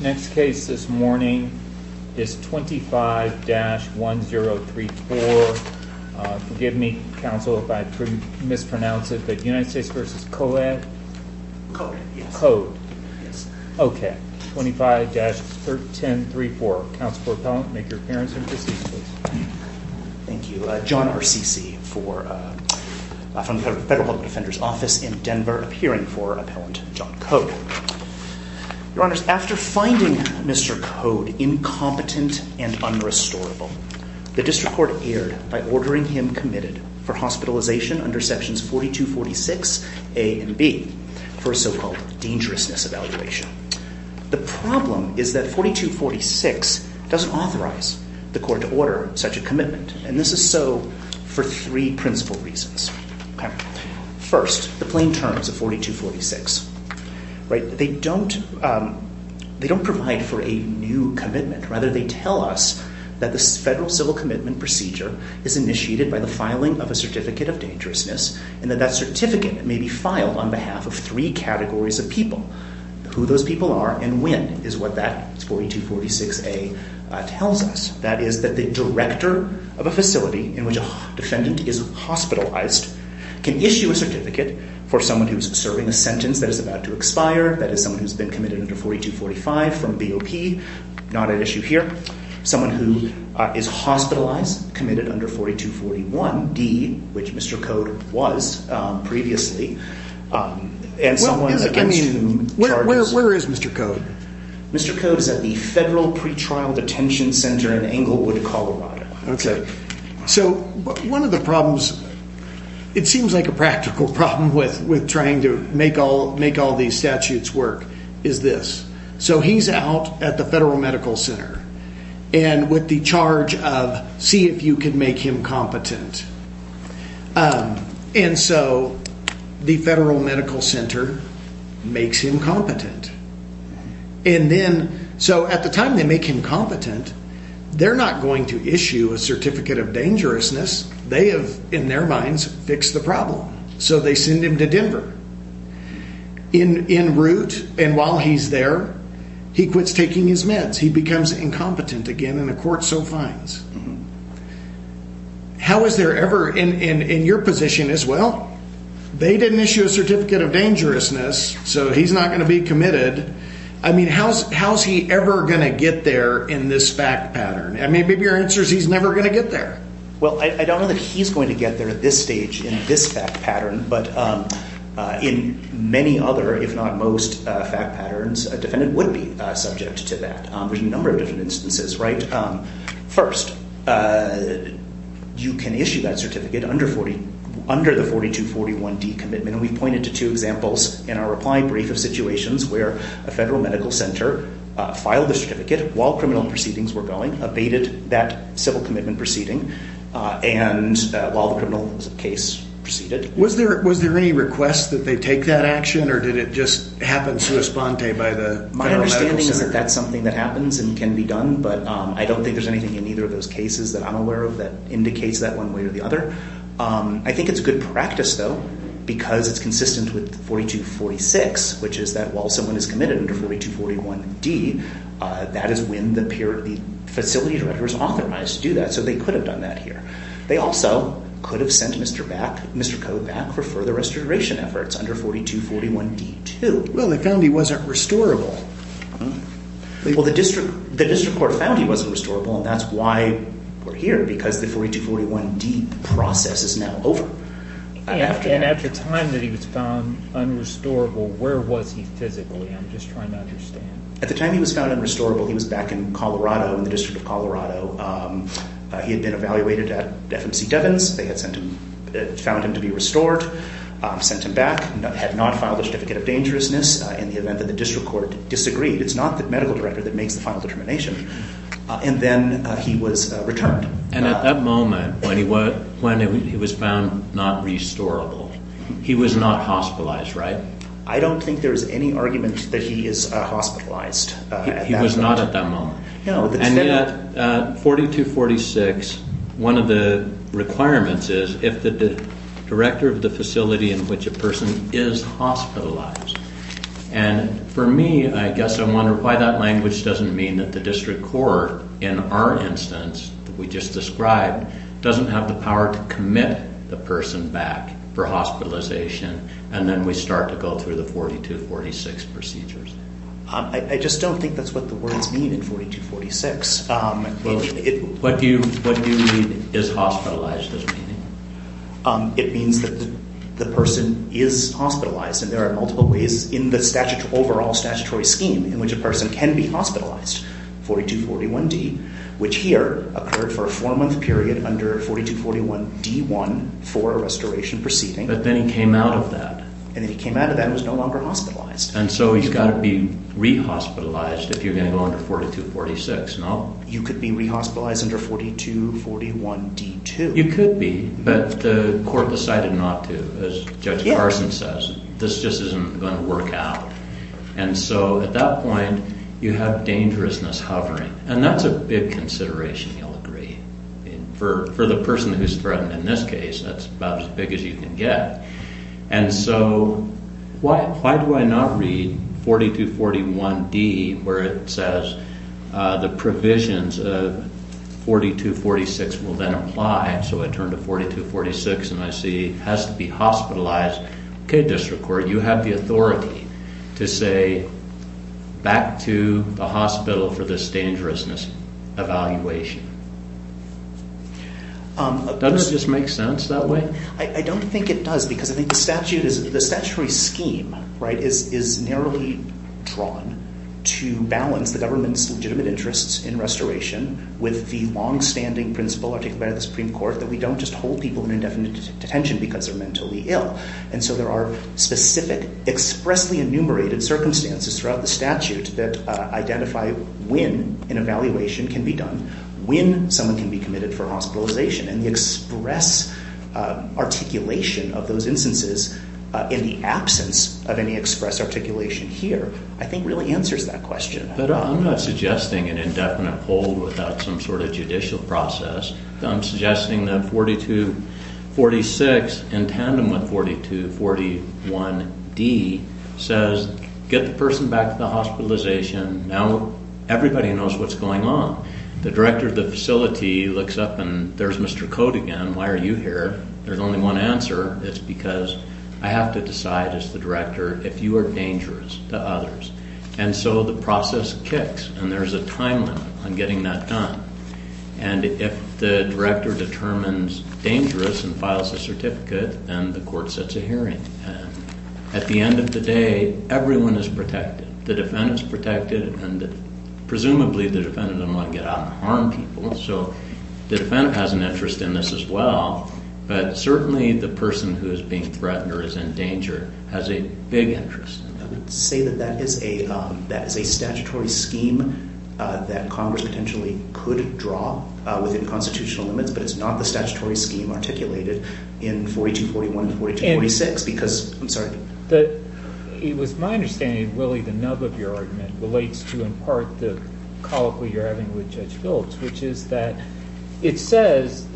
Next case this morning is 25-1034. Forgive me, counsel, if I mispronounce it, but United States v. Coad, okay. 25-1034. Counsel for appellant, make your appearance and proceed, please. Thank you. John R. Ceci from the Federal Health Defender's Office in Denver, appearing for Appellant John Coad. Your honors, after finding Mr. Coad incompetent and unrestorable, the district court erred by ordering him committed for hospitalization under sections 42-46a and b for a so-called dangerousness evaluation. The problem is that 42-46 doesn't authorize the court to order such a commitment, and this is so for three principal reasons. First, the plain terms of 42-46. They don't provide for a new commitment. Rather, they tell us that the federal civil commitment procedure is initiated by the filing of a certificate of dangerousness, and that that certificate may be filed on behalf of three categories of people. Who those people are and when is what that 42-46a tells us. That is, that the director of a facility in which a defendant is hospitalized can issue a certificate for someone who is serving a sentence that is about to expire, that is someone who has been committed under 42-45 from BOP, not at issue here, someone who is hospitalized, committed under 42-41d, which Mr. Coad was previously, and someone against charges. Where is Mr. Coad? Mr. Coad is at the Federal Pretrial Detention Center in Englewood, Colorado. One of the problems, it seems like a practical problem with trying to make all these statutes work, is this. He's out at the Federal Medical Center with the charge of see if you can make him competent. And so, the Federal Medical Center makes him competent. And then, so at the time they make him competent, they're not going to issue a certificate of dangerousness. They have, in their minds, fixed the problem. So they send him to Denver. In route, and while he's there, he quits taking his meds. He becomes incompetent again, and the court so finds. How is there ever, in your position as well, they didn't issue a certificate of dangerousness, so he's not going to be committed. I mean, how's he ever going to get there in this fact pattern? I mean, maybe your answer is he's never going to get there. Well, I don't know that he's going to get there at this stage in this fact pattern, but in many other, if not most, fact patterns, a defendant would be subject to that. There's a number of different instances, right? First, you can issue that certificate under the 4241D commitment. And we've pointed to two examples in our reply brief of situations where a Federal Medical Center filed the certificate while criminal proceedings were going, abated that civil commitment proceeding, and while the criminal case proceeded. Was there any request that they take that action, or did it just happen sui sponte by the Federal Medical Center? My understanding is that that's something that happens and can be done, but I don't think there's anything in either of those cases that I'm aware of that indicates that one way or the other. I think it's good practice, though, because it's consistent with 4246, which is that while someone is committed under 4241D, that is when the facility director is authorized to do that. So they could have done that here. They also could have sent Mr. Code back for further restoration efforts under 4241D2. Well, they found he wasn't restorable. Well, the district court found he wasn't restorable, and that's why we're here, because the 4241D process is now over. And at the time that he was found unrestorable, where was he physically? I'm just trying to understand. At the time he was found unrestorable, he was back in Colorado, in the District of Colorado. He had been evaluated at FMC Devins. They had found him to be restored, sent him back, had not filed a certificate of dangerousness in the event that the district court disagreed. It's not the medical director that makes the final determination. And then he was returned. And at that moment, when he was found not restorable, he was not hospitalized, right? I don't think there is any argument that he is hospitalized. He was not at that moment? And yet, 4246, one of the requirements is if the director of the facility in which a person is hospitalized. And for me, I guess I wonder why that language doesn't mean that the district court, in our instance that we just described, doesn't have the power to commit the person back for hospitalization, and then we start to go through the 4246 procedures. I just don't think that's what the words mean in 4246. What do you mean, is hospitalized is the meaning? It means that the person is hospitalized. And there are multiple ways in the overall statutory scheme in which a person can be hospitalized, 4241D, which here occurred for a four-month period under 4241D1 for a restoration proceeding. But then he came out of that. And then he came out of that and was no longer hospitalized. And so he's got to be re-hospitalized if you're going to go under 4246, no? You could be re-hospitalized under 4241D2. You could be, but the court decided not to, as Judge Carson says. This just isn't going to work out. And so at that point, you have dangerousness hovering. And that's a big consideration, you'll agree. For the person who's threatened in this case, that's about as big as you can get. And so why do I not read 4241D where it says the provisions of 4246 will then apply? So I turn to 4246 and I see it has to be hospitalized. Okay, District Court, you have the authority to say back to the hospital for this dangerousness evaluation. Doesn't it just make sense that way? I don't think it does because I think the statutory scheme is narrowly drawn to balance the government's legitimate interests in restoration with the longstanding principle articulated by the Supreme Court that we don't just hold people in indefinite detention because they're mentally ill. And so there are specific expressly enumerated circumstances throughout the statute that identify when an evaluation can be done, when someone can be committed for hospitalization. And the express articulation of those instances in the absence of any express articulation here, I think really answers that question. But I'm not suggesting an indefinite hold without some sort of judicial process. I'm suggesting that 4246, in tandem with 4241D, says get the person back to the hospitalization. Now everybody knows what's going on. The director of the facility looks up and there's Mr. Cote again. Why are you here? There's only one answer. It's because I have to decide as the director if you are dangerous to others. And so the process kicks and there's a time limit on getting that done. And if the director determines dangerous and files a certificate, then the court sets a hearing. At the end of the day, everyone is protected. The defendant is protected and presumably the defendant doesn't want to get out and harm people. So the defendant has an interest in this as well. But certainly the person who is being threatened or is in danger has a big interest. I would say that that is a statutory scheme that Congress potentially could draw within constitutional limits, but it's not the statutory scheme articulated in 4241 and 4246 because, I'm sorry. It was my understanding, Willie, the nub of your argument relates to, in part, the colloquy you're having with Judge Phelps, which is that it says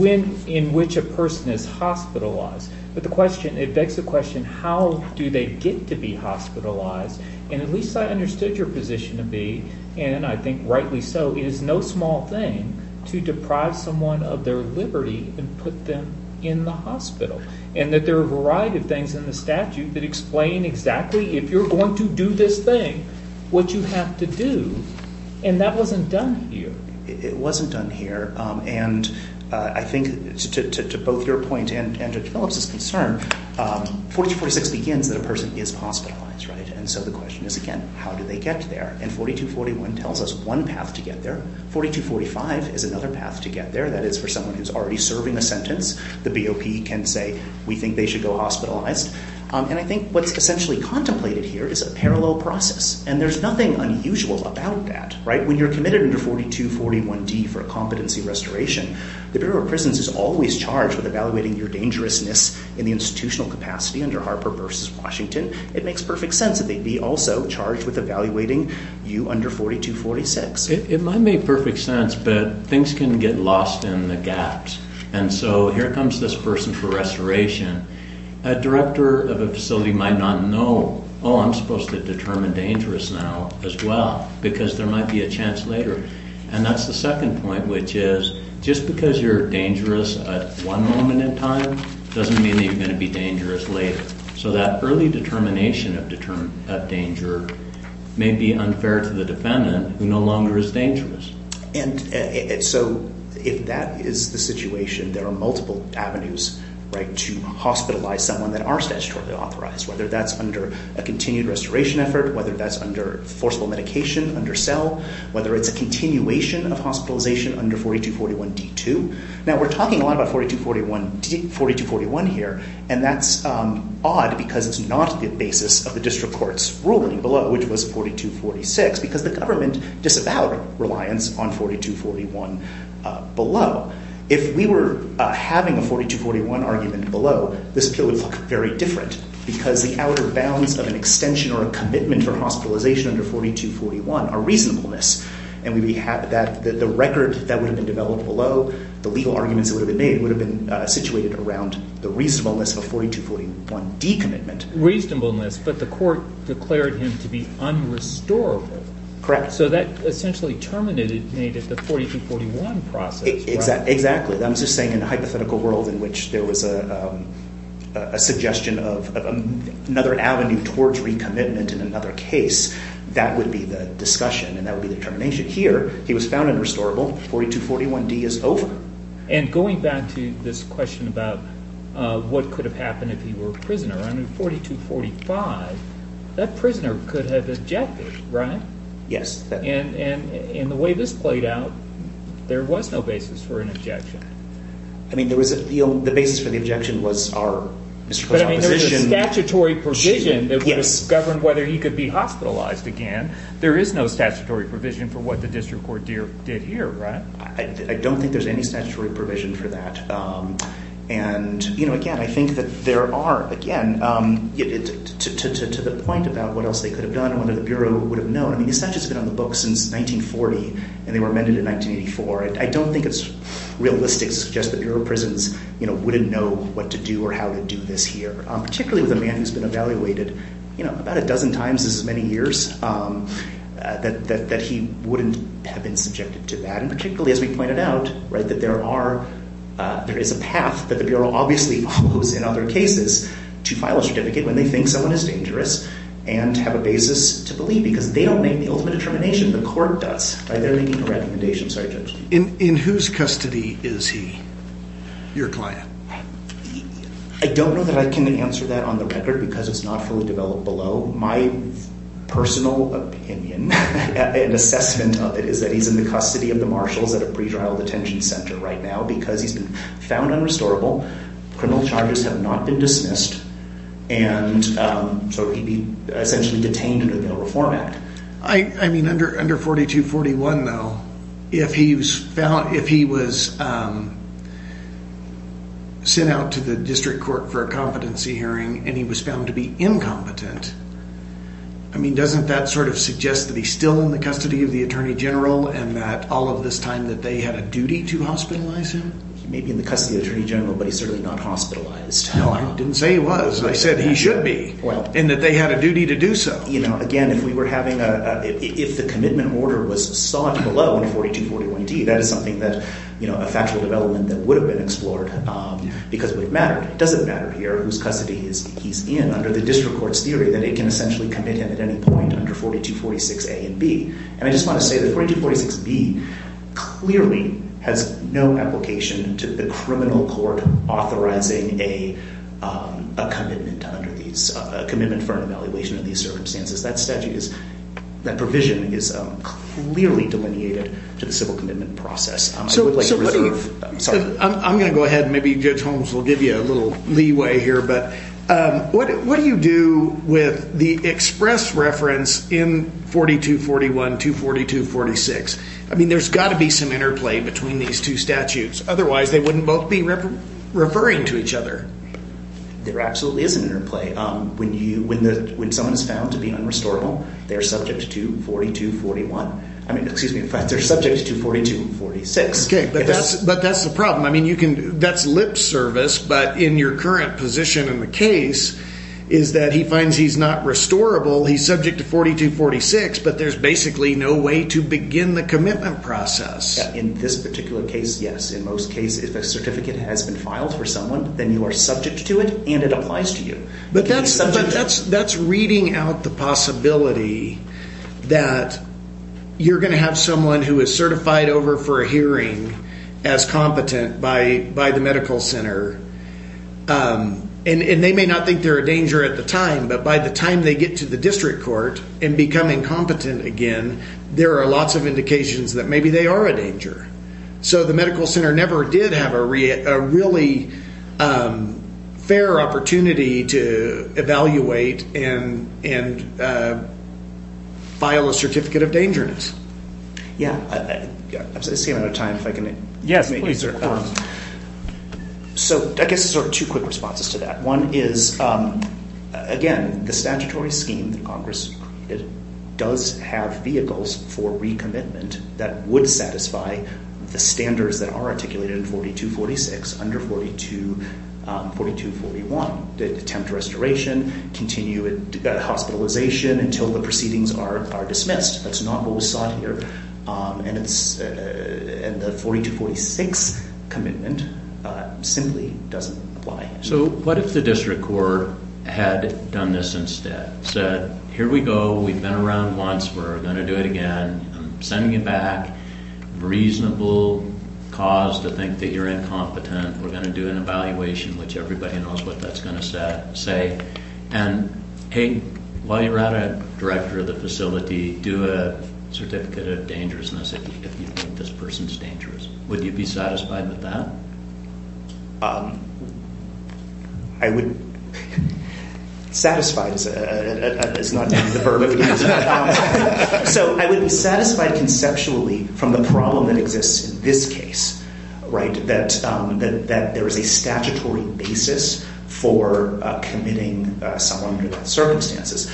in which a person is hospitalized. But the question, it begs the question, how do they get to be hospitalized? And at least I understood your position to be, and I think rightly so, it is no small thing to deprive someone of their liberty and put them in the hospital. And that there are a variety of things in the statute that explain exactly, if you're going to do this thing, what you have to do. And that wasn't done here. It wasn't done here. And I think to both your point and Judge Phelps' concern, 4246 begins that a person is hospitalized, right? And so the question is, again, how do they get there? And 4241 tells us one path to get there. 4245 is another path to get there. That is for someone who is already serving a sentence. The BOP can say, we think they should go hospitalized. And I think what's essentially contemplated here is a parallel process. And there's nothing unusual about that, right? When you're committed under 4241D for a competency restoration, the Bureau of Prisons is always charged with evaluating your dangerousness in the institutional capacity under Harper v. Washington. It makes perfect sense that they'd be also charged with evaluating you under 4246. It might make perfect sense, but things can get lost in the gaps. And so here comes this person for restoration. A director of a facility might not know, oh, I'm supposed to determine dangerous now as well, because there might be a chance later. And that's the second point, which is just because you're dangerous at one moment in time doesn't mean that you're going to be dangerous later. So that early determination of danger may be unfair to the defendant who no longer is dangerous. And so if that is the situation, there are multiple avenues to hospitalize someone that are statutorily authorized, whether that's under a continued restoration effort, whether that's under forcible medication, under cell, whether it's a continuation of hospitalization under 4241D2. Now, we're talking a lot about 4241 here, and that's odd because it's not the basis of the district court's ruling below, which was 4246, because the government disavowed reliance on 4241 below. If we were having a 4241 argument below, this appeal would look very different because the outer bounds of an extension or a commitment for hospitalization under 4241 are reasonableness. And the record that would have been developed below, the legal arguments that would have been made, would have been situated around the reasonableness of a 4241D commitment. Reasonableness, but the court declared him to be unrestorable. So that essentially terminated the 4241 process, right? Exactly. I'm just saying in a hypothetical world in which there was a suggestion of another avenue towards recommitment in another case, that would be the discussion and that would be the determination. Here, he was found unrestorable. 4241D is over. And going back to this question about what could have happened if he were a prisoner, under 4245, that prisoner could have objected, right? Yes. And the way this played out, there was no basis for an objection. I mean, the basis for the objection was our district court's opposition. But I mean, there was a statutory provision that would have governed whether he could be hospitalized again. There is no statutory provision for what the district court did here, right? I don't think there's any statutory provision for that. And, you know, again, I think that there are, again, to the point about what else they could have done, what the Bureau would have known. I mean, the statute's been on the books since 1940, and they were amended in 1984. I don't think it's realistic to suggest the Bureau of Prisons, you know, wouldn't know what to do or how to do this here, particularly with a man who's been evaluated, you know, about a dozen times as many years, that he wouldn't have been subjected to that. And particularly, as we pointed out, right, that there is a path that the Bureau obviously follows in other cases to file a certificate when they think someone is dangerous and have a basis to believe, because they don't make the ultimate determination. The court does. They're making a recommendation. Sorry, Judge. In whose custody is he, your client? I don't know that I can answer that on the record because it's not fully developed below. My personal opinion and assessment of it is that he's in the custody of the marshals at a pre-trial detention center right now because he's been found unrestorable, criminal charges have not been dismissed, and so he'd be essentially detained under the Bill of Reform Act. I mean, under 4241, though, if he was sent out to the district court for a competency hearing and he was found to be incompetent, I mean, doesn't that sort of suggest that he's still in the custody of the attorney general and that all of this time that they had a duty to hospitalize him? He may be in the custody of the attorney general, but he's certainly not hospitalized. No, I didn't say he was. I said he should be and that they had a duty to do so. You know, again, if we were having a, if the commitment order was sought below in 4241D, that is something that, you know, a factual development that would have been explored because it would have mattered. It doesn't matter here whose custody he's in under the district court's theory that it can essentially commit him at any point under 4246A and B. And I just want to say that 4246B clearly has no application to the criminal court authorizing a commitment under these, a commitment for an evaluation of these circumstances. That statute is, that provision is clearly delineated to the civil commitment process. I'm going to go ahead and maybe Judge Holmes will give you a little leeway here, but what do you do with the express reference in 4241 to 4246? I mean, there's got to be some interplay between these two statutes. Otherwise, they wouldn't both be referring to each other. There absolutely is an interplay. When you, when someone is found to be unrestorable, they're subject to 4241. I mean, excuse me, they're subject to 4246. Okay, but that's the problem. I mean, you can, that's lip service, but in your current position in the case is that he finds he's not restorable. He's subject to 4246, but there's basically no way to begin the commitment process. In this particular case, yes. In most cases, if a certificate has been filed for someone, then you are subject to it and it applies to you. But that's reading out the possibility that you're going to have someone who is certified over for a hearing as competent by the medical center. And they may not think they're a danger at the time, but by the time they get to the district court and become incompetent again, there are lots of indications that maybe they are a danger. So the medical center never did have a really fair opportunity to evaluate and file a certificate of dangerousness. Yeah, I'm saying out of time, if I can. Yes, please, sir. So I guess there are two quick responses to that. One is, again, the statutory scheme that Congress created does have vehicles for recommitment that would satisfy the standards that are articulated in 4246 under 4241. They attempt restoration, continue hospitalization until the proceedings are dismissed. That's not what was sought here. And the 4246 commitment simply doesn't apply. So what if the district court had done this instead, said, here we go. We've been around once. We're going to do it again. I'm sending you back a reasonable cause to think that you're incompetent. We're going to do an evaluation, which everybody knows what that's going to say. And, hey, while you're at it, director of the facility, do a certificate of dangerousness if you think this person's dangerous. Would you be satisfied with that? I would. Satisfied is not the verb. So I would be satisfied conceptually from the problem that exists in this case, right, that there is a statutory basis for committing someone under those circumstances.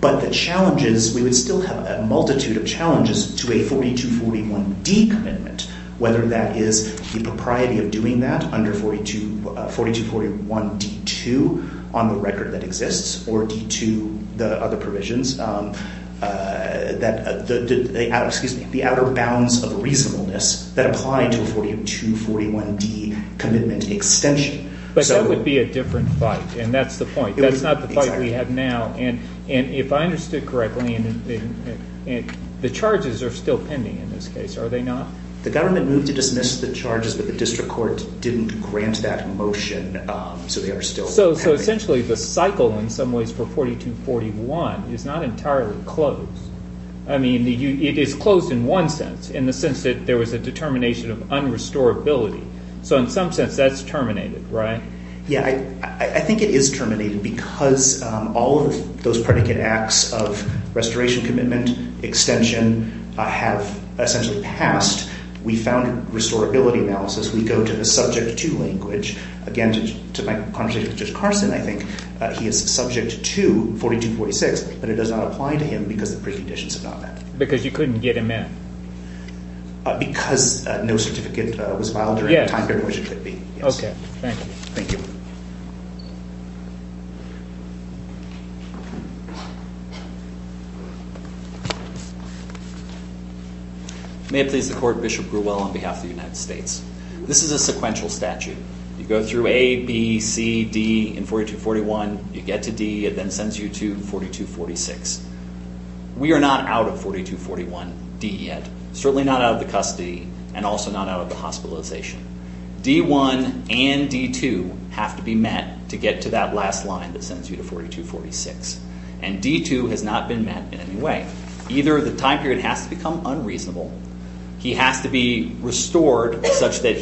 But the challenges, we would still have a multitude of challenges to a 4241D commitment, whether that is the propriety of doing that under 4241D2 on the record that exists, or D2, the other provisions, the outer bounds of reasonableness that apply to a 4241D commitment extension. But that would be a different fight, and that's the point. That's not the fight we have now. And if I understood correctly, the charges are still pending in this case, are they not? The government moved to dismiss the charges, but the district court didn't grant that motion, so they are still pending. So essentially the cycle in some ways for 4241 is not entirely closed. I mean, it is closed in one sense, in the sense that there was a determination of unrestorability. So in some sense that's terminated, right? Yeah, I think it is terminated because all of those predicate acts of restoration commitment extension have essentially passed. We found restorability analysis. We go to the subject to language. Again, to my conversation with Judge Carson, I think he is subject to 4246, but it does not apply to him because the preconditions have not met. Because you couldn't get him in? Because no certificate was filed during the time during which it could be, yes. Okay, thank you. May it please the court, Bishop Grewell on behalf of the United States. This is a sequential statute. You go through A, B, C, D in 4241, you get to D, it then sends you to 4246. We are not out of 4241D yet. Certainly not out of the custody and also not out of the hospitalization. D1 and D2 have to be met to get to that last line that sends you to 4246. And D2 has not been met in any way. Either the time period has to become unreasonable, he has to be restored such that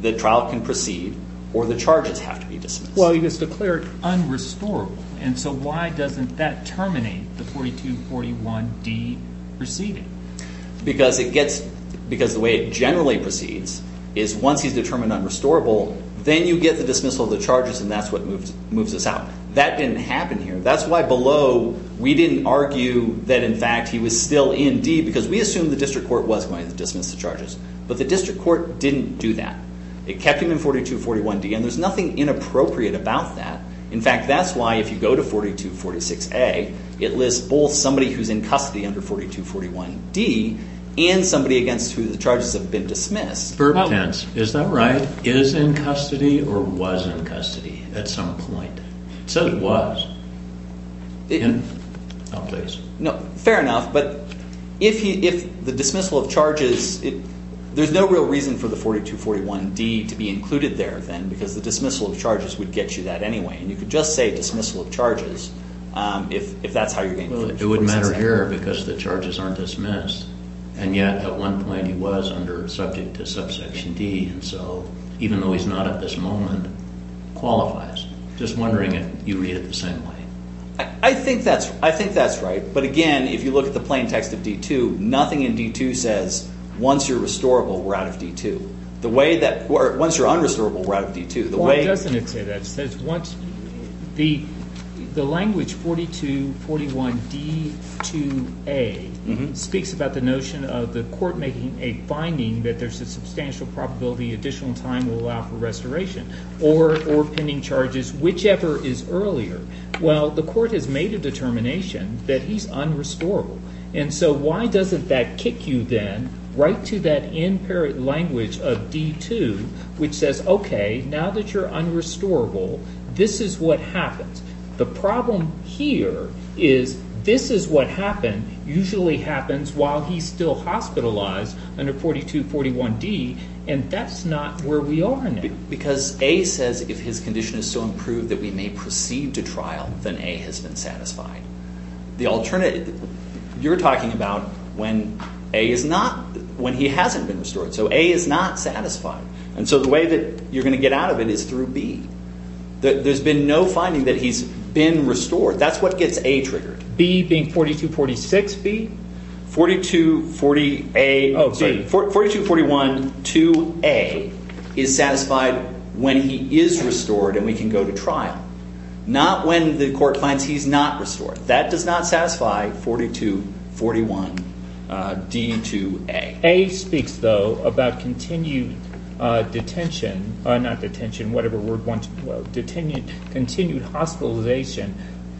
the trial can proceed, or the charges have to be dismissed. Well, you just declared unrestorable. And so why doesn't that terminate the 4241D proceeding? Because the way it generally proceeds is once he's determined unrestorable, then you get the dismissal of the charges and that's what moves us out. That didn't happen here. That's why below we didn't argue that in fact he was still in D, because we assumed the district court was going to dismiss the charges. But the district court didn't do that. It kept him in 4241D and there's nothing inappropriate about that. In fact, that's why if you go to 4246A, it lists both somebody who's in custody under 4241D and somebody against who the charges have been dismissed. Is that right? Is in custody or was in custody at some point? It said it was. No, fair enough. But if the dismissal of charges, there's no real reason for the 4241D to be included there then, because the dismissal of charges would get you that anyway. And you could just say dismissal of charges if that's how you're getting 4246A. Well, it wouldn't matter here because the charges aren't dismissed. And yet at one point he was subject to subsection D, and so even though he's not at this moment, qualifies. Just wondering if you read it the same way. I think that's right. But again, if you look at the plain text of D2, nothing in D2 says once you're restorable, we're out of D2. Once you're unrestorable, we're out of D2. Well, it doesn't say that. The language, 4241D2A, speaks about the notion of the court making a finding that there's a substantial probability additional time will allow for restoration or pending charges, whichever is earlier. Well, the court has made a determination that he's unrestorable. And so why doesn't that kick you then right to that imperative language of D2, which says, okay, now that you're unrestorable, this is what happens. The problem here is this is what happened, usually happens while he's still hospitalized under 4241D, and that's not where we are now. Because A says if his condition is so improved that we may proceed to trial, then A has been satisfied. You're talking about when A is not, when he hasn't been restored. So A is not satisfied. And so the way that you're going to get out of it is through B. There's been no finding that he's been restored. That's what gets A triggered. B being 4246B? 4241D2A is satisfied when he is restored and we can go to trial, not when the court finds he's not restored. That does not satisfy 4241D2A. A speaks, though, about continued detention, not detention, whatever word you want to quote, continued hospitalization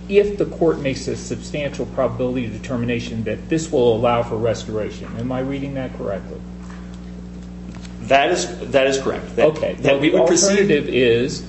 if the court makes a substantial probability determination that this will allow for restoration. Am I reading that correctly? That is correct. The alternative is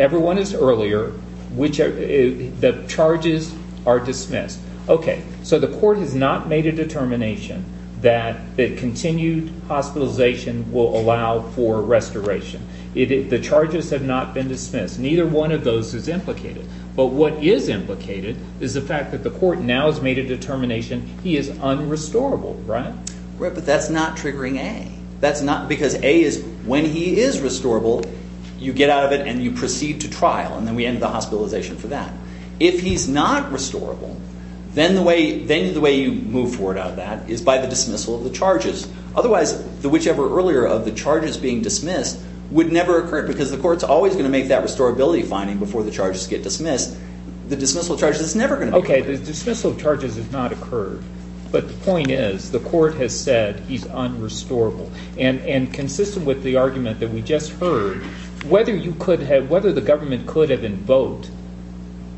everyone is earlier, the charges are dismissed. Okay, so the court has not made a determination that continued hospitalization will allow for restoration. The charges have not been dismissed. Neither one of those is implicated. But what is implicated is the fact that the court now has made a determination he is unrestorable, right? Right, but that's not triggering A. That's not because A is when he is restorable, you get out of it and you proceed to trial and then we end the hospitalization for that. If he's not restorable, then the way you move forward out of that is by the dismissal of the charges. Otherwise, whichever earlier of the charges being dismissed would never occur because the court's always going to make that restorability finding before the charges get dismissed. The dismissal of charges is never going to occur. Okay, the dismissal of charges has not occurred. But the point is the court has said he's unrestorable. And consistent with the argument that we just heard, whether the government could have invoked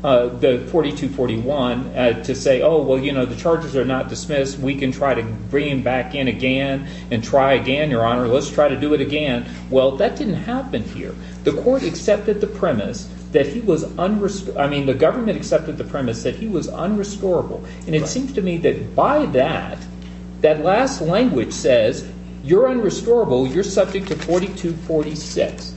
the 4241 to say, oh, well, you know, the charges are not dismissed. We can try to bring him back in again and try again, Your Honor. Let's try to do it again. Well, that didn't happen here. The court accepted the premise that he was unrestorable. I mean, the government accepted the premise that he was unrestorable. And it seems to me that by that, that last language says, you're unrestorable, you're subject to 4246.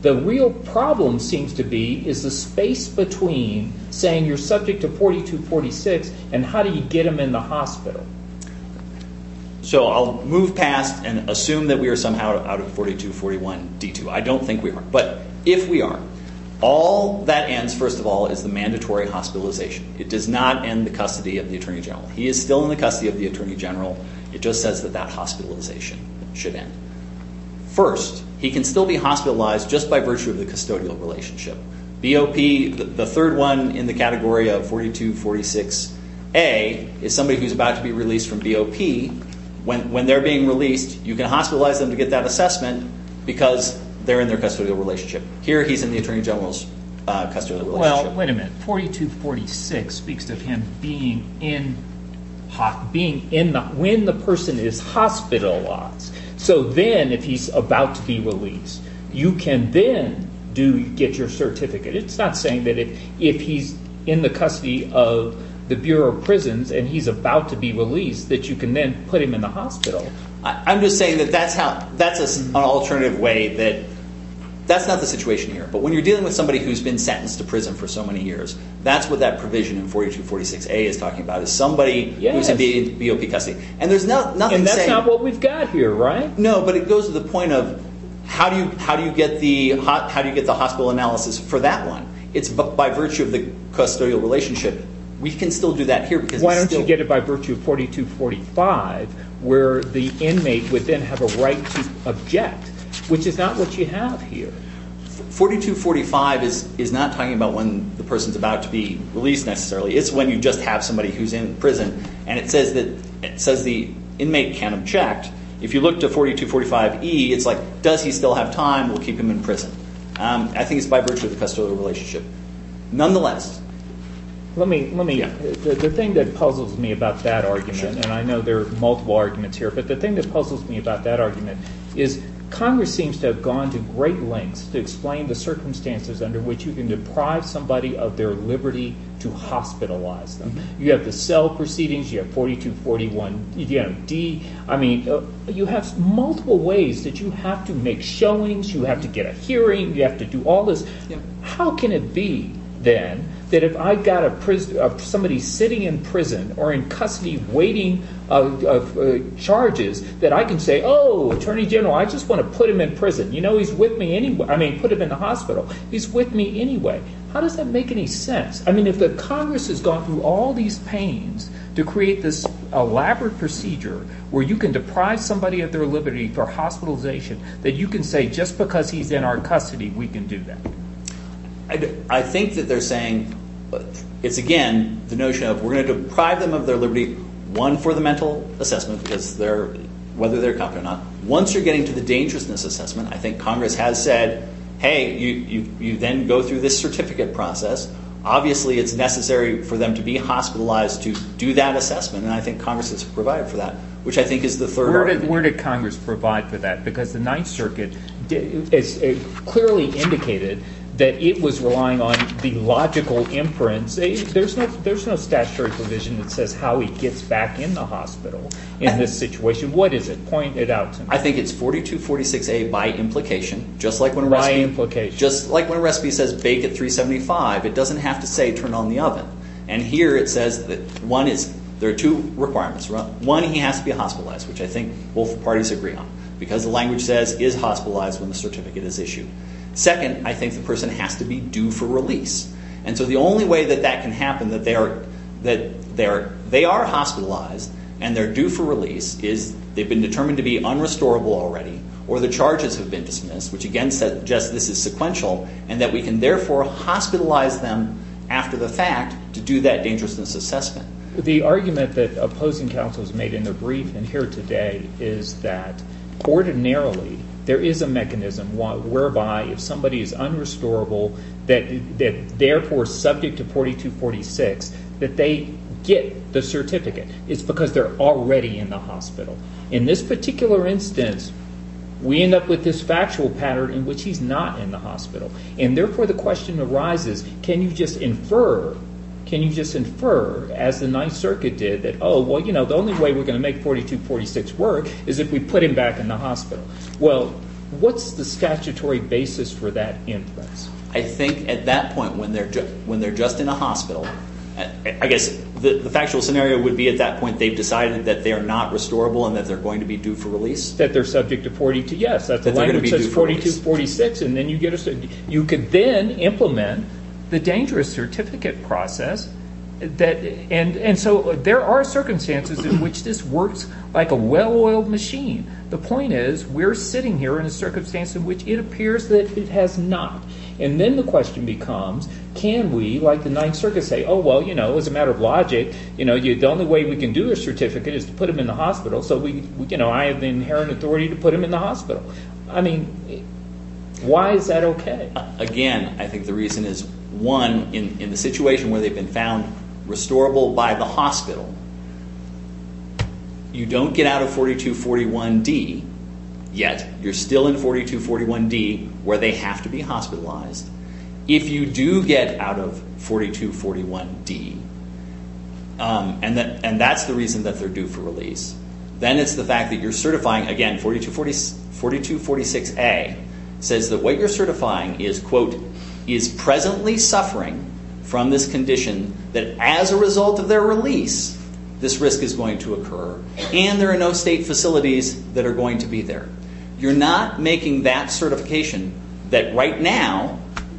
The real problem seems to be is the space between saying you're subject to 4246 and how do you get him in the hospital. So I'll move past and assume that we are somehow out of 4241 D2. I don't think we are. But if we are, all that ends, first of all, is the mandatory hospitalization. It does not end the custody of the Attorney General. He is still in the custody of the Attorney General. It just says that that hospitalization should end. First, he can still be hospitalized just by virtue of the custodial relationship. BOP, the third one in the category of 4246A, is somebody who's about to be released from BOP. When they're being released, you can hospitalize them to get that assessment because they're in their custodial relationship. Here he's in the Attorney General's custodial relationship. Well, wait a minute. 4246 speaks to him being in the hospital. When the person is hospitalized, so then if he's about to be released, you can then get your certificate. It's not saying that if he's in the custody of the Bureau of Prisons and he's about to be released that you can then put him in the hospital. I'm just saying that that's an alternative way that that's not the situation here. But when you're dealing with somebody who's been sentenced to prison for so many years, that's what that provision in 4246A is talking about, is somebody who's in BOP custody. And that's not what we've got here, right? No, but it goes to the point of how do you get the hospital analysis for that one? It's by virtue of the custodial relationship. We can still do that here. Why don't you get it by virtue of 4245, where the inmate would then have a right to object, which is not what you have here. 4245 is not talking about when the person's about to be released necessarily. It's when you just have somebody who's in prison, and it says the inmate can't object. If you look to 4245E, it's like, does he still have time? We'll keep him in prison. I think it's by virtue of the custodial relationship. The thing that puzzles me about that argument, and I know there are multiple arguments here, but the thing that puzzles me about that argument is Congress seems to have gone to great lengths to explain the circumstances under which you can deprive somebody of their liberty to hospitalize them. You have the cell proceedings. You have 4241D. You have multiple ways that you have to make showings. You have to get a hearing. You have to do all this. How can it be, then, that if I've got somebody sitting in prison or in custody waiting charges, that I can say, oh, Attorney General, I just want to put him in prison. You know, he's with me anyway. I mean, put him in the hospital. He's with me anyway. How does that make any sense? I mean, if the Congress has gone through all these pains to create this elaborate procedure where you can deprive somebody of their liberty for hospitalization, that you can say just because he's in our custody, we can do that? I think that they're saying it's, again, the notion of we're going to deprive them of their liberty, one, for the mental assessment, whether they're competent or not. Once you're getting to the dangerousness assessment, I think Congress has said, hey, you then go through this certificate process. Obviously, it's necessary for them to be hospitalized to do that assessment, and I think Congress has provided for that, which I think is the third argument. Where did Congress provide for that? Because the Ninth Circuit clearly indicated that it was relying on the logical imprints. There's no statutory provision that says how he gets back in the hospital in this situation. What is it? Point it out to me. I think it's 4246A by implication, just like when a recipe says bake at 375, it doesn't have to say turn on the oven. And here it says that, one, there are two requirements. One, he has to be hospitalized, which I think both parties agree on, because the language says is hospitalized when the certificate is issued. Second, I think the person has to be due for release. And so the only way that that can happen, that they are hospitalized and they're due for release, is they've been determined to be unrestorable already, or the charges have been dismissed, which again suggests this is sequential, and that we can therefore hospitalize them after the fact to do that dangerousness assessment. The argument that opposing counsels made in their brief and here today is that ordinarily there is a mechanism whereby if somebody is unrestorable, that therefore is subject to 4246, that they get the certificate. It's because they're already in the hospital. In this particular instance, we end up with this factual pattern in which he's not in the hospital. And therefore the question arises, can you just infer, can you just infer as the Ninth Circuit did that, oh, well, you know, the only way we're going to make 4246 work is if we put him back in the hospital. Well, what's the statutory basis for that inference? I think at that point when they're just in a hospital, I guess the factual scenario would be at that point they've decided that they are not restorable and that they're going to be due for release. That they're subject to 4246. You could then implement the dangerous certificate process. And so there are circumstances in which this works like a well-oiled machine. The point is we're sitting here in a circumstance in which it appears that it has not. And then the question becomes, can we, like the Ninth Circuit, say, oh, well, you know, as a matter of logic, you know, the only way we can do a certificate is to put him in the hospital. So we, you know, I have the inherent authority to put him in the hospital. I mean, why is that okay? Again, I think the reason is, one, in the situation where they've been found restorable by the hospital, you don't get out of 4241D, yet you're still in 4241D where they have to be hospitalized. If you do get out of 4241D, and that's the reason that they're due for release, then it's the fact that you're certifying, again, 4246A, says that what you're certifying is, quote, is presently suffering from this condition that as a result of their release this risk is going to occur. And there are no state facilities that are going to be there. You're not making that certification that right now,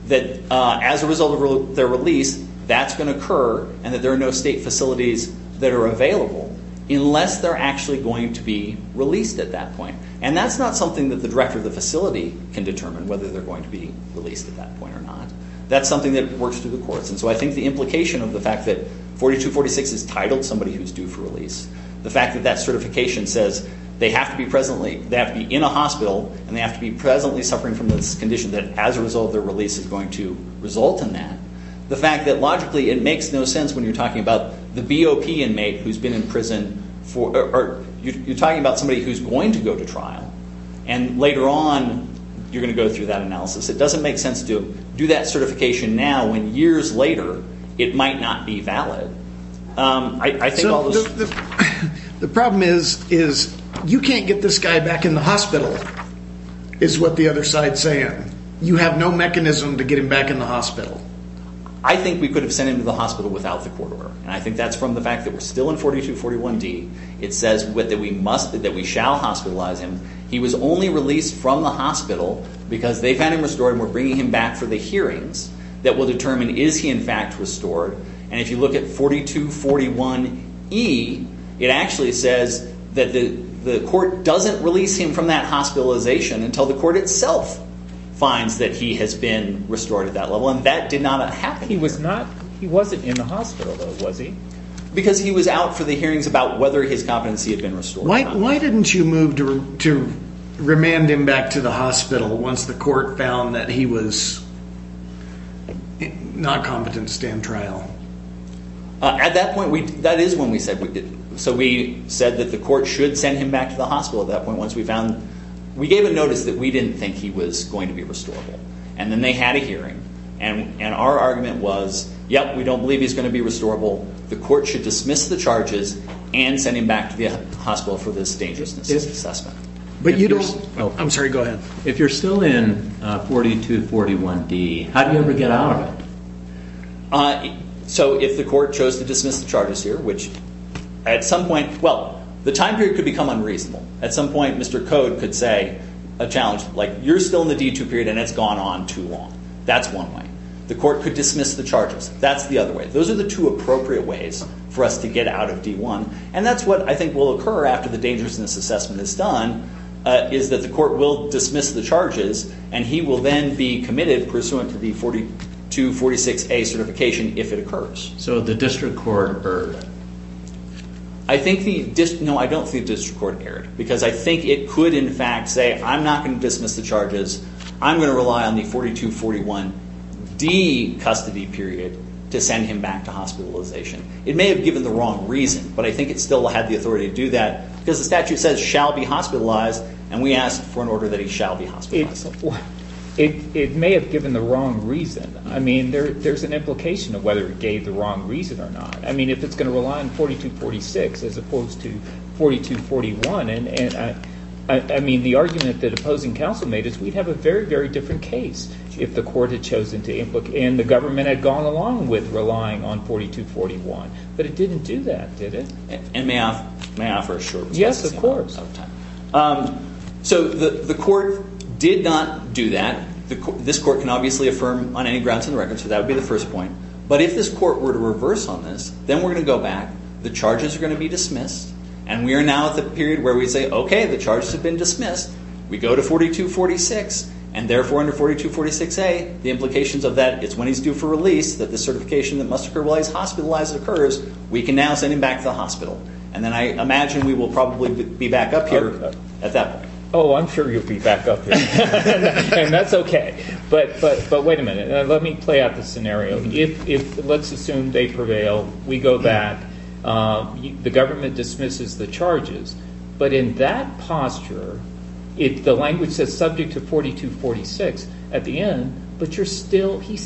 that as a result of their release that's going to occur and that there are no state facilities that are available unless they're actually going to be released at that point. And that's not something that the director of the facility can determine, whether they're going to be released at that point or not. That's something that works through the courts. And so I think the implication of the fact that 4246 is titled somebody who's due for release, the fact that that certification says they have to be in a hospital and they have to be presently suffering from this condition that as a result of their release is going to result in that, the fact that logically it makes no sense when you're talking about the BOP inmate who's been in prison. You're talking about somebody who's going to go to trial and later on you're going to go through that analysis. It doesn't make sense to do that certification now when years later it might not be valid. So the problem is you can't get this guy back in the hospital is what the other side is saying. You have no mechanism to get him back in the hospital. I think we could have sent him to the hospital without the court order. And I think that's from the fact that we're still in 4241D. It says that we shall hospitalize him. He was only released from the hospital because they found him restored and we're bringing him back for the hearings that will determine is he in fact restored. And if you look at 4241E, it actually says that the court doesn't release him from that hospitalization until the court itself finds that he has been restored at that level. And that did not happen. He wasn't in the hospital though, was he? Because he was out for the hearings about whether his competency had been restored. Why didn't you move to remand him back to the hospital once the court found that he was not competent to stand trial? At that point, that is when we said we didn't. So we said that the court should send him back to the hospital at that point once we found, we gave a notice that we didn't think he was going to be restorable. And then they had a hearing. And our argument was, yep, we don't believe he's going to be restorable. The court should dismiss the charges and send him back to the hospital for this dangerousness assessment. I'm sorry, go ahead. If you're still in 4241D, how do you ever get out of it? So if the court chose to dismiss the charges here, which at some point, well, the time period could become unreasonable. At some point, Mr. Code could say a challenge like, you're still in the D2 period and it's gone on too long. That's one way. The court could dismiss the charges. That's the other way. Those are the two appropriate ways for us to get out of D1. And that's what I think will occur after the dangerousness assessment is done, is that the court will dismiss the charges and he will then be committed pursuant to the 4246A certification if it occurs. So the district court erred. No, I don't think the district court erred. Because I think it could, in fact, say, I'm not going to dismiss the charges. I'm going to rely on the 4241D custody period to send him back to hospitalization. It may have given the wrong reason, but I think it still had the authority to do that. Because the statute says, shall be hospitalized, and we asked for an order that he shall be hospitalized. It may have given the wrong reason. I mean, there's an implication of whether it gave the wrong reason or not. I mean, if it's going to rely on 4246 as opposed to 4241, I mean, the argument that opposing counsel made is we'd have a very, very different case if the court had chosen to implicate and the government had gone along with relying on 4241. But it didn't do that, did it? And may I offer a short response? Yes, of course. So the court did not do that. This court can obviously affirm on any grounds in the record. So that would be the first point. But if this court were to reverse on this, then we're going to go back. The charges are going to be dismissed. And we are now at the period where we say, OK, the charges have been dismissed. We go to 4246, and therefore under 4246A, the implications of that, it's when he's due for release that the certification that must occur while he's hospitalized occurs. We can now send him back to the hospital. And then I imagine we will probably be back up here at that point. Oh, I'm sure you'll be back up here. And that's OK. But wait a minute. Let me play out the scenario. Let's assume they prevail. We go back. The government dismisses the charges. But in that posture, the language says subject to 4246 at the end. But he's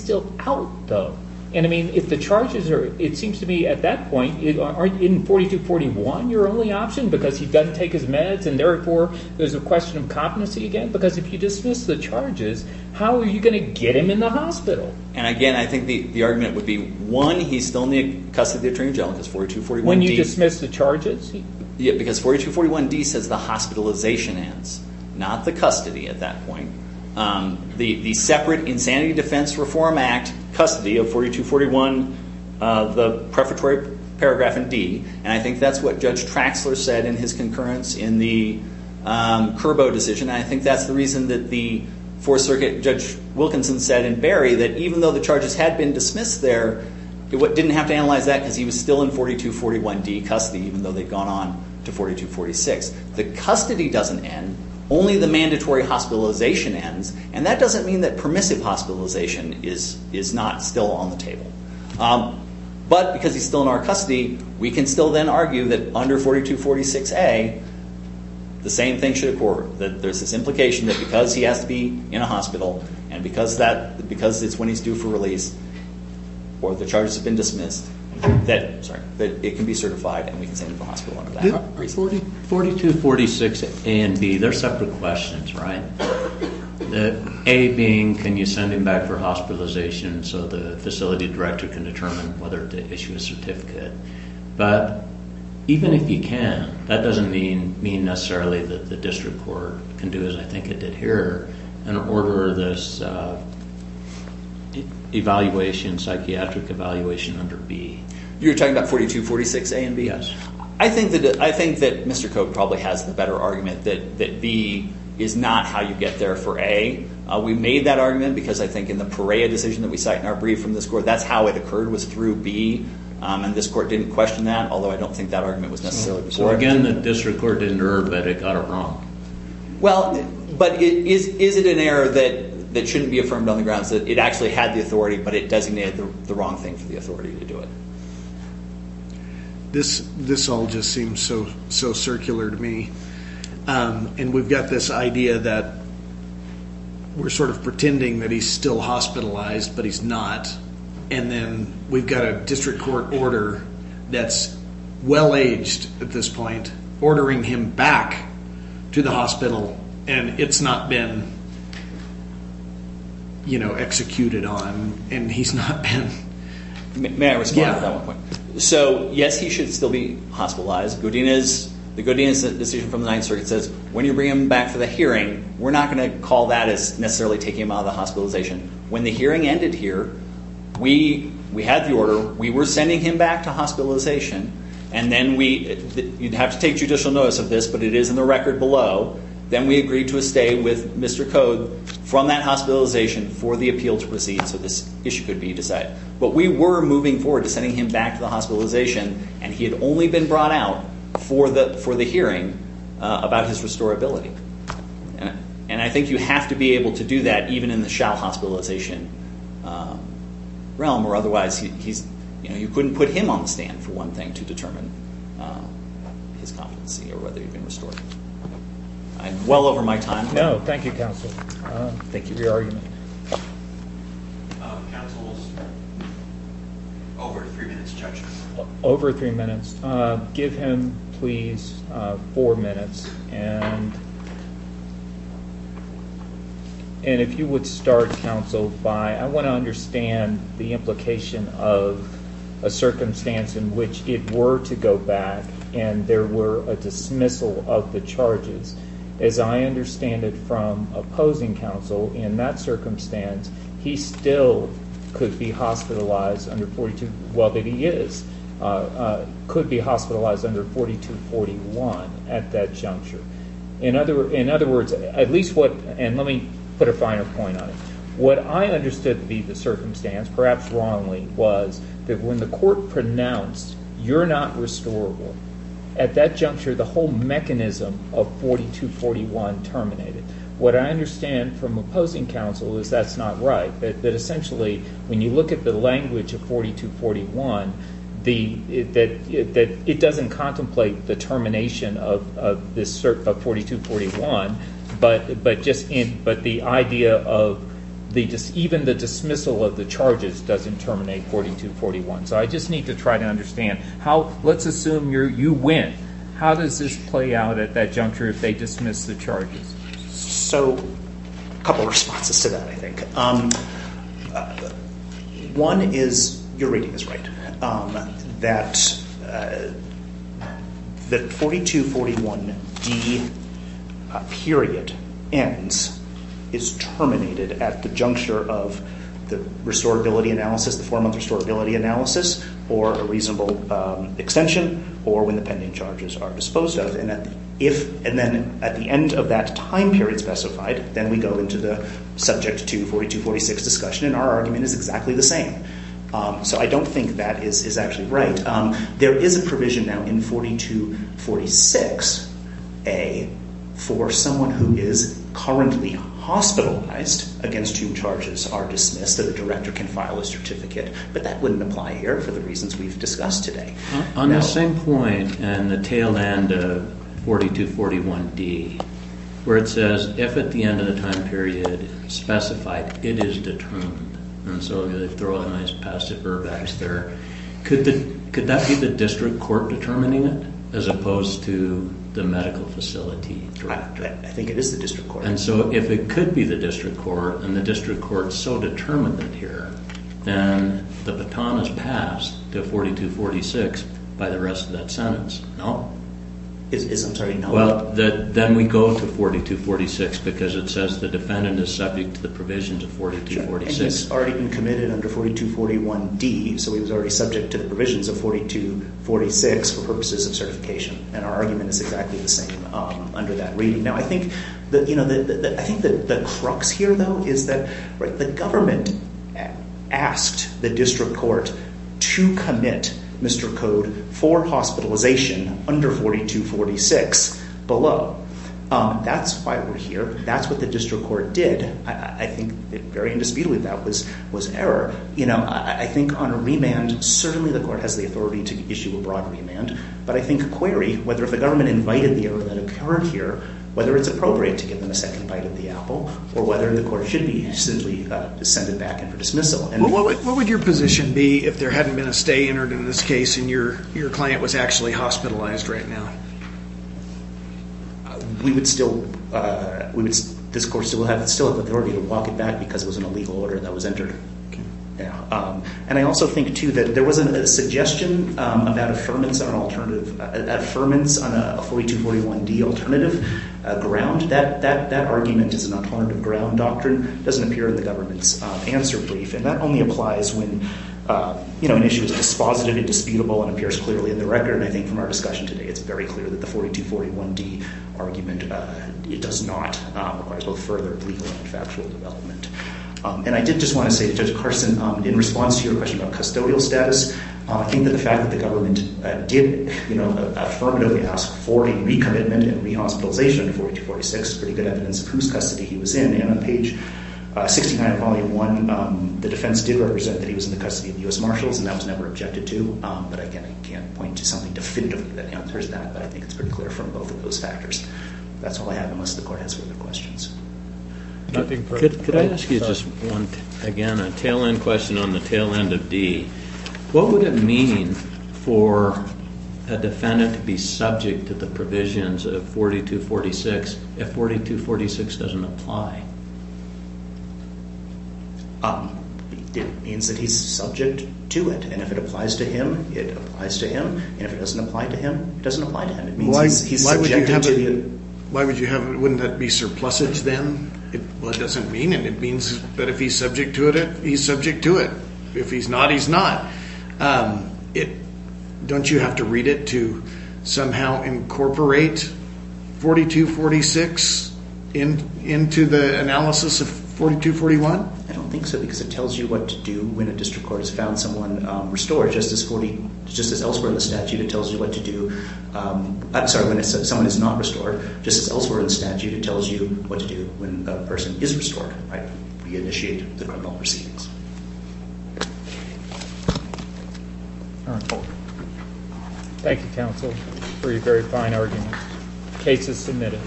still out, though. And, I mean, if the charges are, it seems to me at that point, aren't in 4241 your only option because he doesn't take his meds, and therefore there's a question of competency again? Because if you dismiss the charges, how are you going to get him in the hospital? And, again, I think the argument would be, one, he's still in the custody of the attorney general because 4241D. When you dismiss the charges? Because 4241D says the hospitalization ends, not the custody at that point. The separate Insanity Defense Reform Act custody of 4241, the prefatory paragraph in D. And I think that's what Judge Traxler said in his concurrence in the Curbo decision. And I think that's the reason that the Fourth Circuit Judge Wilkinson said in Berry that even though the charges had been dismissed there, he didn't have to analyze that because he was still in 4241D custody, even though they'd gone on to 4246. The custody doesn't end. Only the mandatory hospitalization ends. And that doesn't mean that permissive hospitalization is not still on the table. But because he's still in our custody, we can still then argue that under 4246A the same thing should occur, that there's this implication that because he has to be in a hospital and because it's when he's due for release or the charges have been dismissed, that it can be certified and we can send him to the hospital under that. 4246A and B, they're separate questions, right? A being can you send him back for hospitalization so the facility director can determine whether to issue a certificate. But even if you can, that doesn't mean necessarily that the district court can do as I think it did here and order this evaluation, psychiatric evaluation under B. You're talking about 4246A and B? Yes. I think that Mr. Koch probably has the better argument that B is not how you get there for A. We made that argument because I think in the Perea decision that we cite in our brief from this court, that's how it occurred was through B. And this court didn't question that, although I don't think that argument was necessarily correct. Well, again, the district court didn't err, but it got it wrong. Well, but is it an error that shouldn't be affirmed on the grounds that it actually had the authority, but it designated the wrong thing for the authority to do it? This all just seems so circular to me. And we've got this idea that we're sort of pretending that he's still hospitalized, but he's not. And then we've got a district court order that's well-aged at this point ordering him back to the hospital, and it's not been, you know, executed on, and he's not been. May I respond to that one point? So, yes, he should still be hospitalized. The Godinez decision from the Ninth Circuit says when you bring him back for the hearing, we're not going to call that as necessarily taking him out of the hospitalization. When the hearing ended here, we had the order, we were sending him back to hospitalization, and then we, you'd have to take judicial notice of this, but it is in the record below, then we agreed to a stay with Mr. Code from that hospitalization for the appeal to proceed, so this issue could be decided. But we were moving forward to sending him back to the hospitalization, and he had only been brought out for the hearing about his restorability. And I think you have to be able to do that even in the shell hospitalization realm, or otherwise you couldn't put him on the stand for one thing to determine his competency or whether he'd been restored. I'm well over my time. No, thank you, counsel. Thank you for your argument. Counsel's over three minutes, judges. Over three minutes. Just give him, please, four minutes. And if you would start, counsel, by I want to understand the implication of a circumstance in which it were to go back and there were a dismissal of the charges. As I understand it from opposing counsel, in that circumstance, he still could be hospitalized under 42, well, that he is, could be hospitalized under 4241 at that juncture. In other words, at least what, and let me put a finer point on it, what I understood to be the circumstance, perhaps wrongly, was that when the court pronounced you're not restorable, at that juncture the whole mechanism of 4241 terminated. What I understand from opposing counsel is that's not right, that essentially when you look at the language of 4241, it doesn't contemplate the termination of 4241, but the idea of even the dismissal of the charges doesn't terminate 4241. So I just need to try to understand. Let's assume you win. How does this play out at that juncture if they dismiss the charges? So a couple of responses to that, I think. One is, you're reading this right, that the 4241D period ends, is terminated at the juncture of the restorability analysis, the 4-month restorability analysis, or a reasonable extension, or when the pending charges are disposed of. And then at the end of that time period specified, then we go into the subject to 4246 discussion, and our argument is exactly the same. So I don't think that is actually right. There is a provision now in 4246A for someone who is currently hospitalized against whom charges are dismissed, that a director can file a certificate, but that wouldn't apply here for the reasons we've discussed today. On the same point, and the tail end of 4241D, where it says, if at the end of the time period specified, it is determined, and so they throw a nice passive verb there, could that be the district court determining it, as opposed to the medical facility director? I think it is the district court. And so if it could be the district court, and the district court is so determined here, then the baton is passed to 4246 by the rest of that sentence. I'm sorry, no. Well, then we go to 4246, because it says the defendant is subject to the provisions of 4246. And he's already been committed under 4241D, so he was already subject to the provisions of 4246 for purposes of certification, and our argument is exactly the same under that reading. Now I think the crux here, though, is that the government asked the district court to commit Mr. Code for hospitalization under 4246 below. That's why we're here. That's what the district court did. I think very indisputably that was error. You know, I think on a remand, certainly the court has the authority to issue a broad remand, but I think a query, whether if the government invited the error that occurred here, whether it's appropriate to give them a second bite at the apple, or whether the court should simply send it back in for dismissal. Well, what would your position be if there hadn't been a stay entered in this case and your client was actually hospitalized right now? We would still, this court would still have the authority to walk it back because it was an illegal order that was entered. Okay. And I also think, too, that there wasn't a suggestion about affirmance on an alternative, affirmance on a 4241D alternative ground. That argument as an alternative ground doctrine doesn't appear in the government's answer brief, and that only applies when, you know, an issue is dispositive, indisputable, and appears clearly in the record. And I think from our discussion today, it's very clear that the 4241D argument, it does not require both further legal and factual development. And I did just want to say to Judge Carson, in response to your question about custodial status, I think that the fact that the government did, you know, affirmatively ask for a recommitment and re-hospitalization under 4246 is pretty good evidence of whose custody he was in. And on page 69 of volume 1, the defense did represent that he was in the custody of U.S. Marshals, and that was never objected to. But, again, I can't point to something definitive that answers that, but I think it's pretty clear from both of those factors. That's all I have, unless the court has further questions. Nothing further. Could I ask you just one, again, a tail-end question on the tail-end of D. What would it mean for a defendant to be subject to the provisions of 4246 if 4246 doesn't apply? It means that he's subject to it. And if it applies to him, it applies to him. And if it doesn't apply to him, it doesn't apply to him. It means he's subjected to it. Why would you have it? Wouldn't that be surplusage then? Well, it doesn't mean, and it means that if he's subject to it, he's subject to it. If he's not, he's not. Don't you have to read it to somehow incorporate 4246 into the analysis of 4241? I don't think so, because it tells you what to do when a district court has found someone restored. Just as elsewhere in the statute, it tells you what to do when someone is not restored. Just as elsewhere in the statute, it tells you what to do when a person is restored. We initiate the criminal proceedings. All right. Thank you, counsel, for your very fine argument. Case is submitted.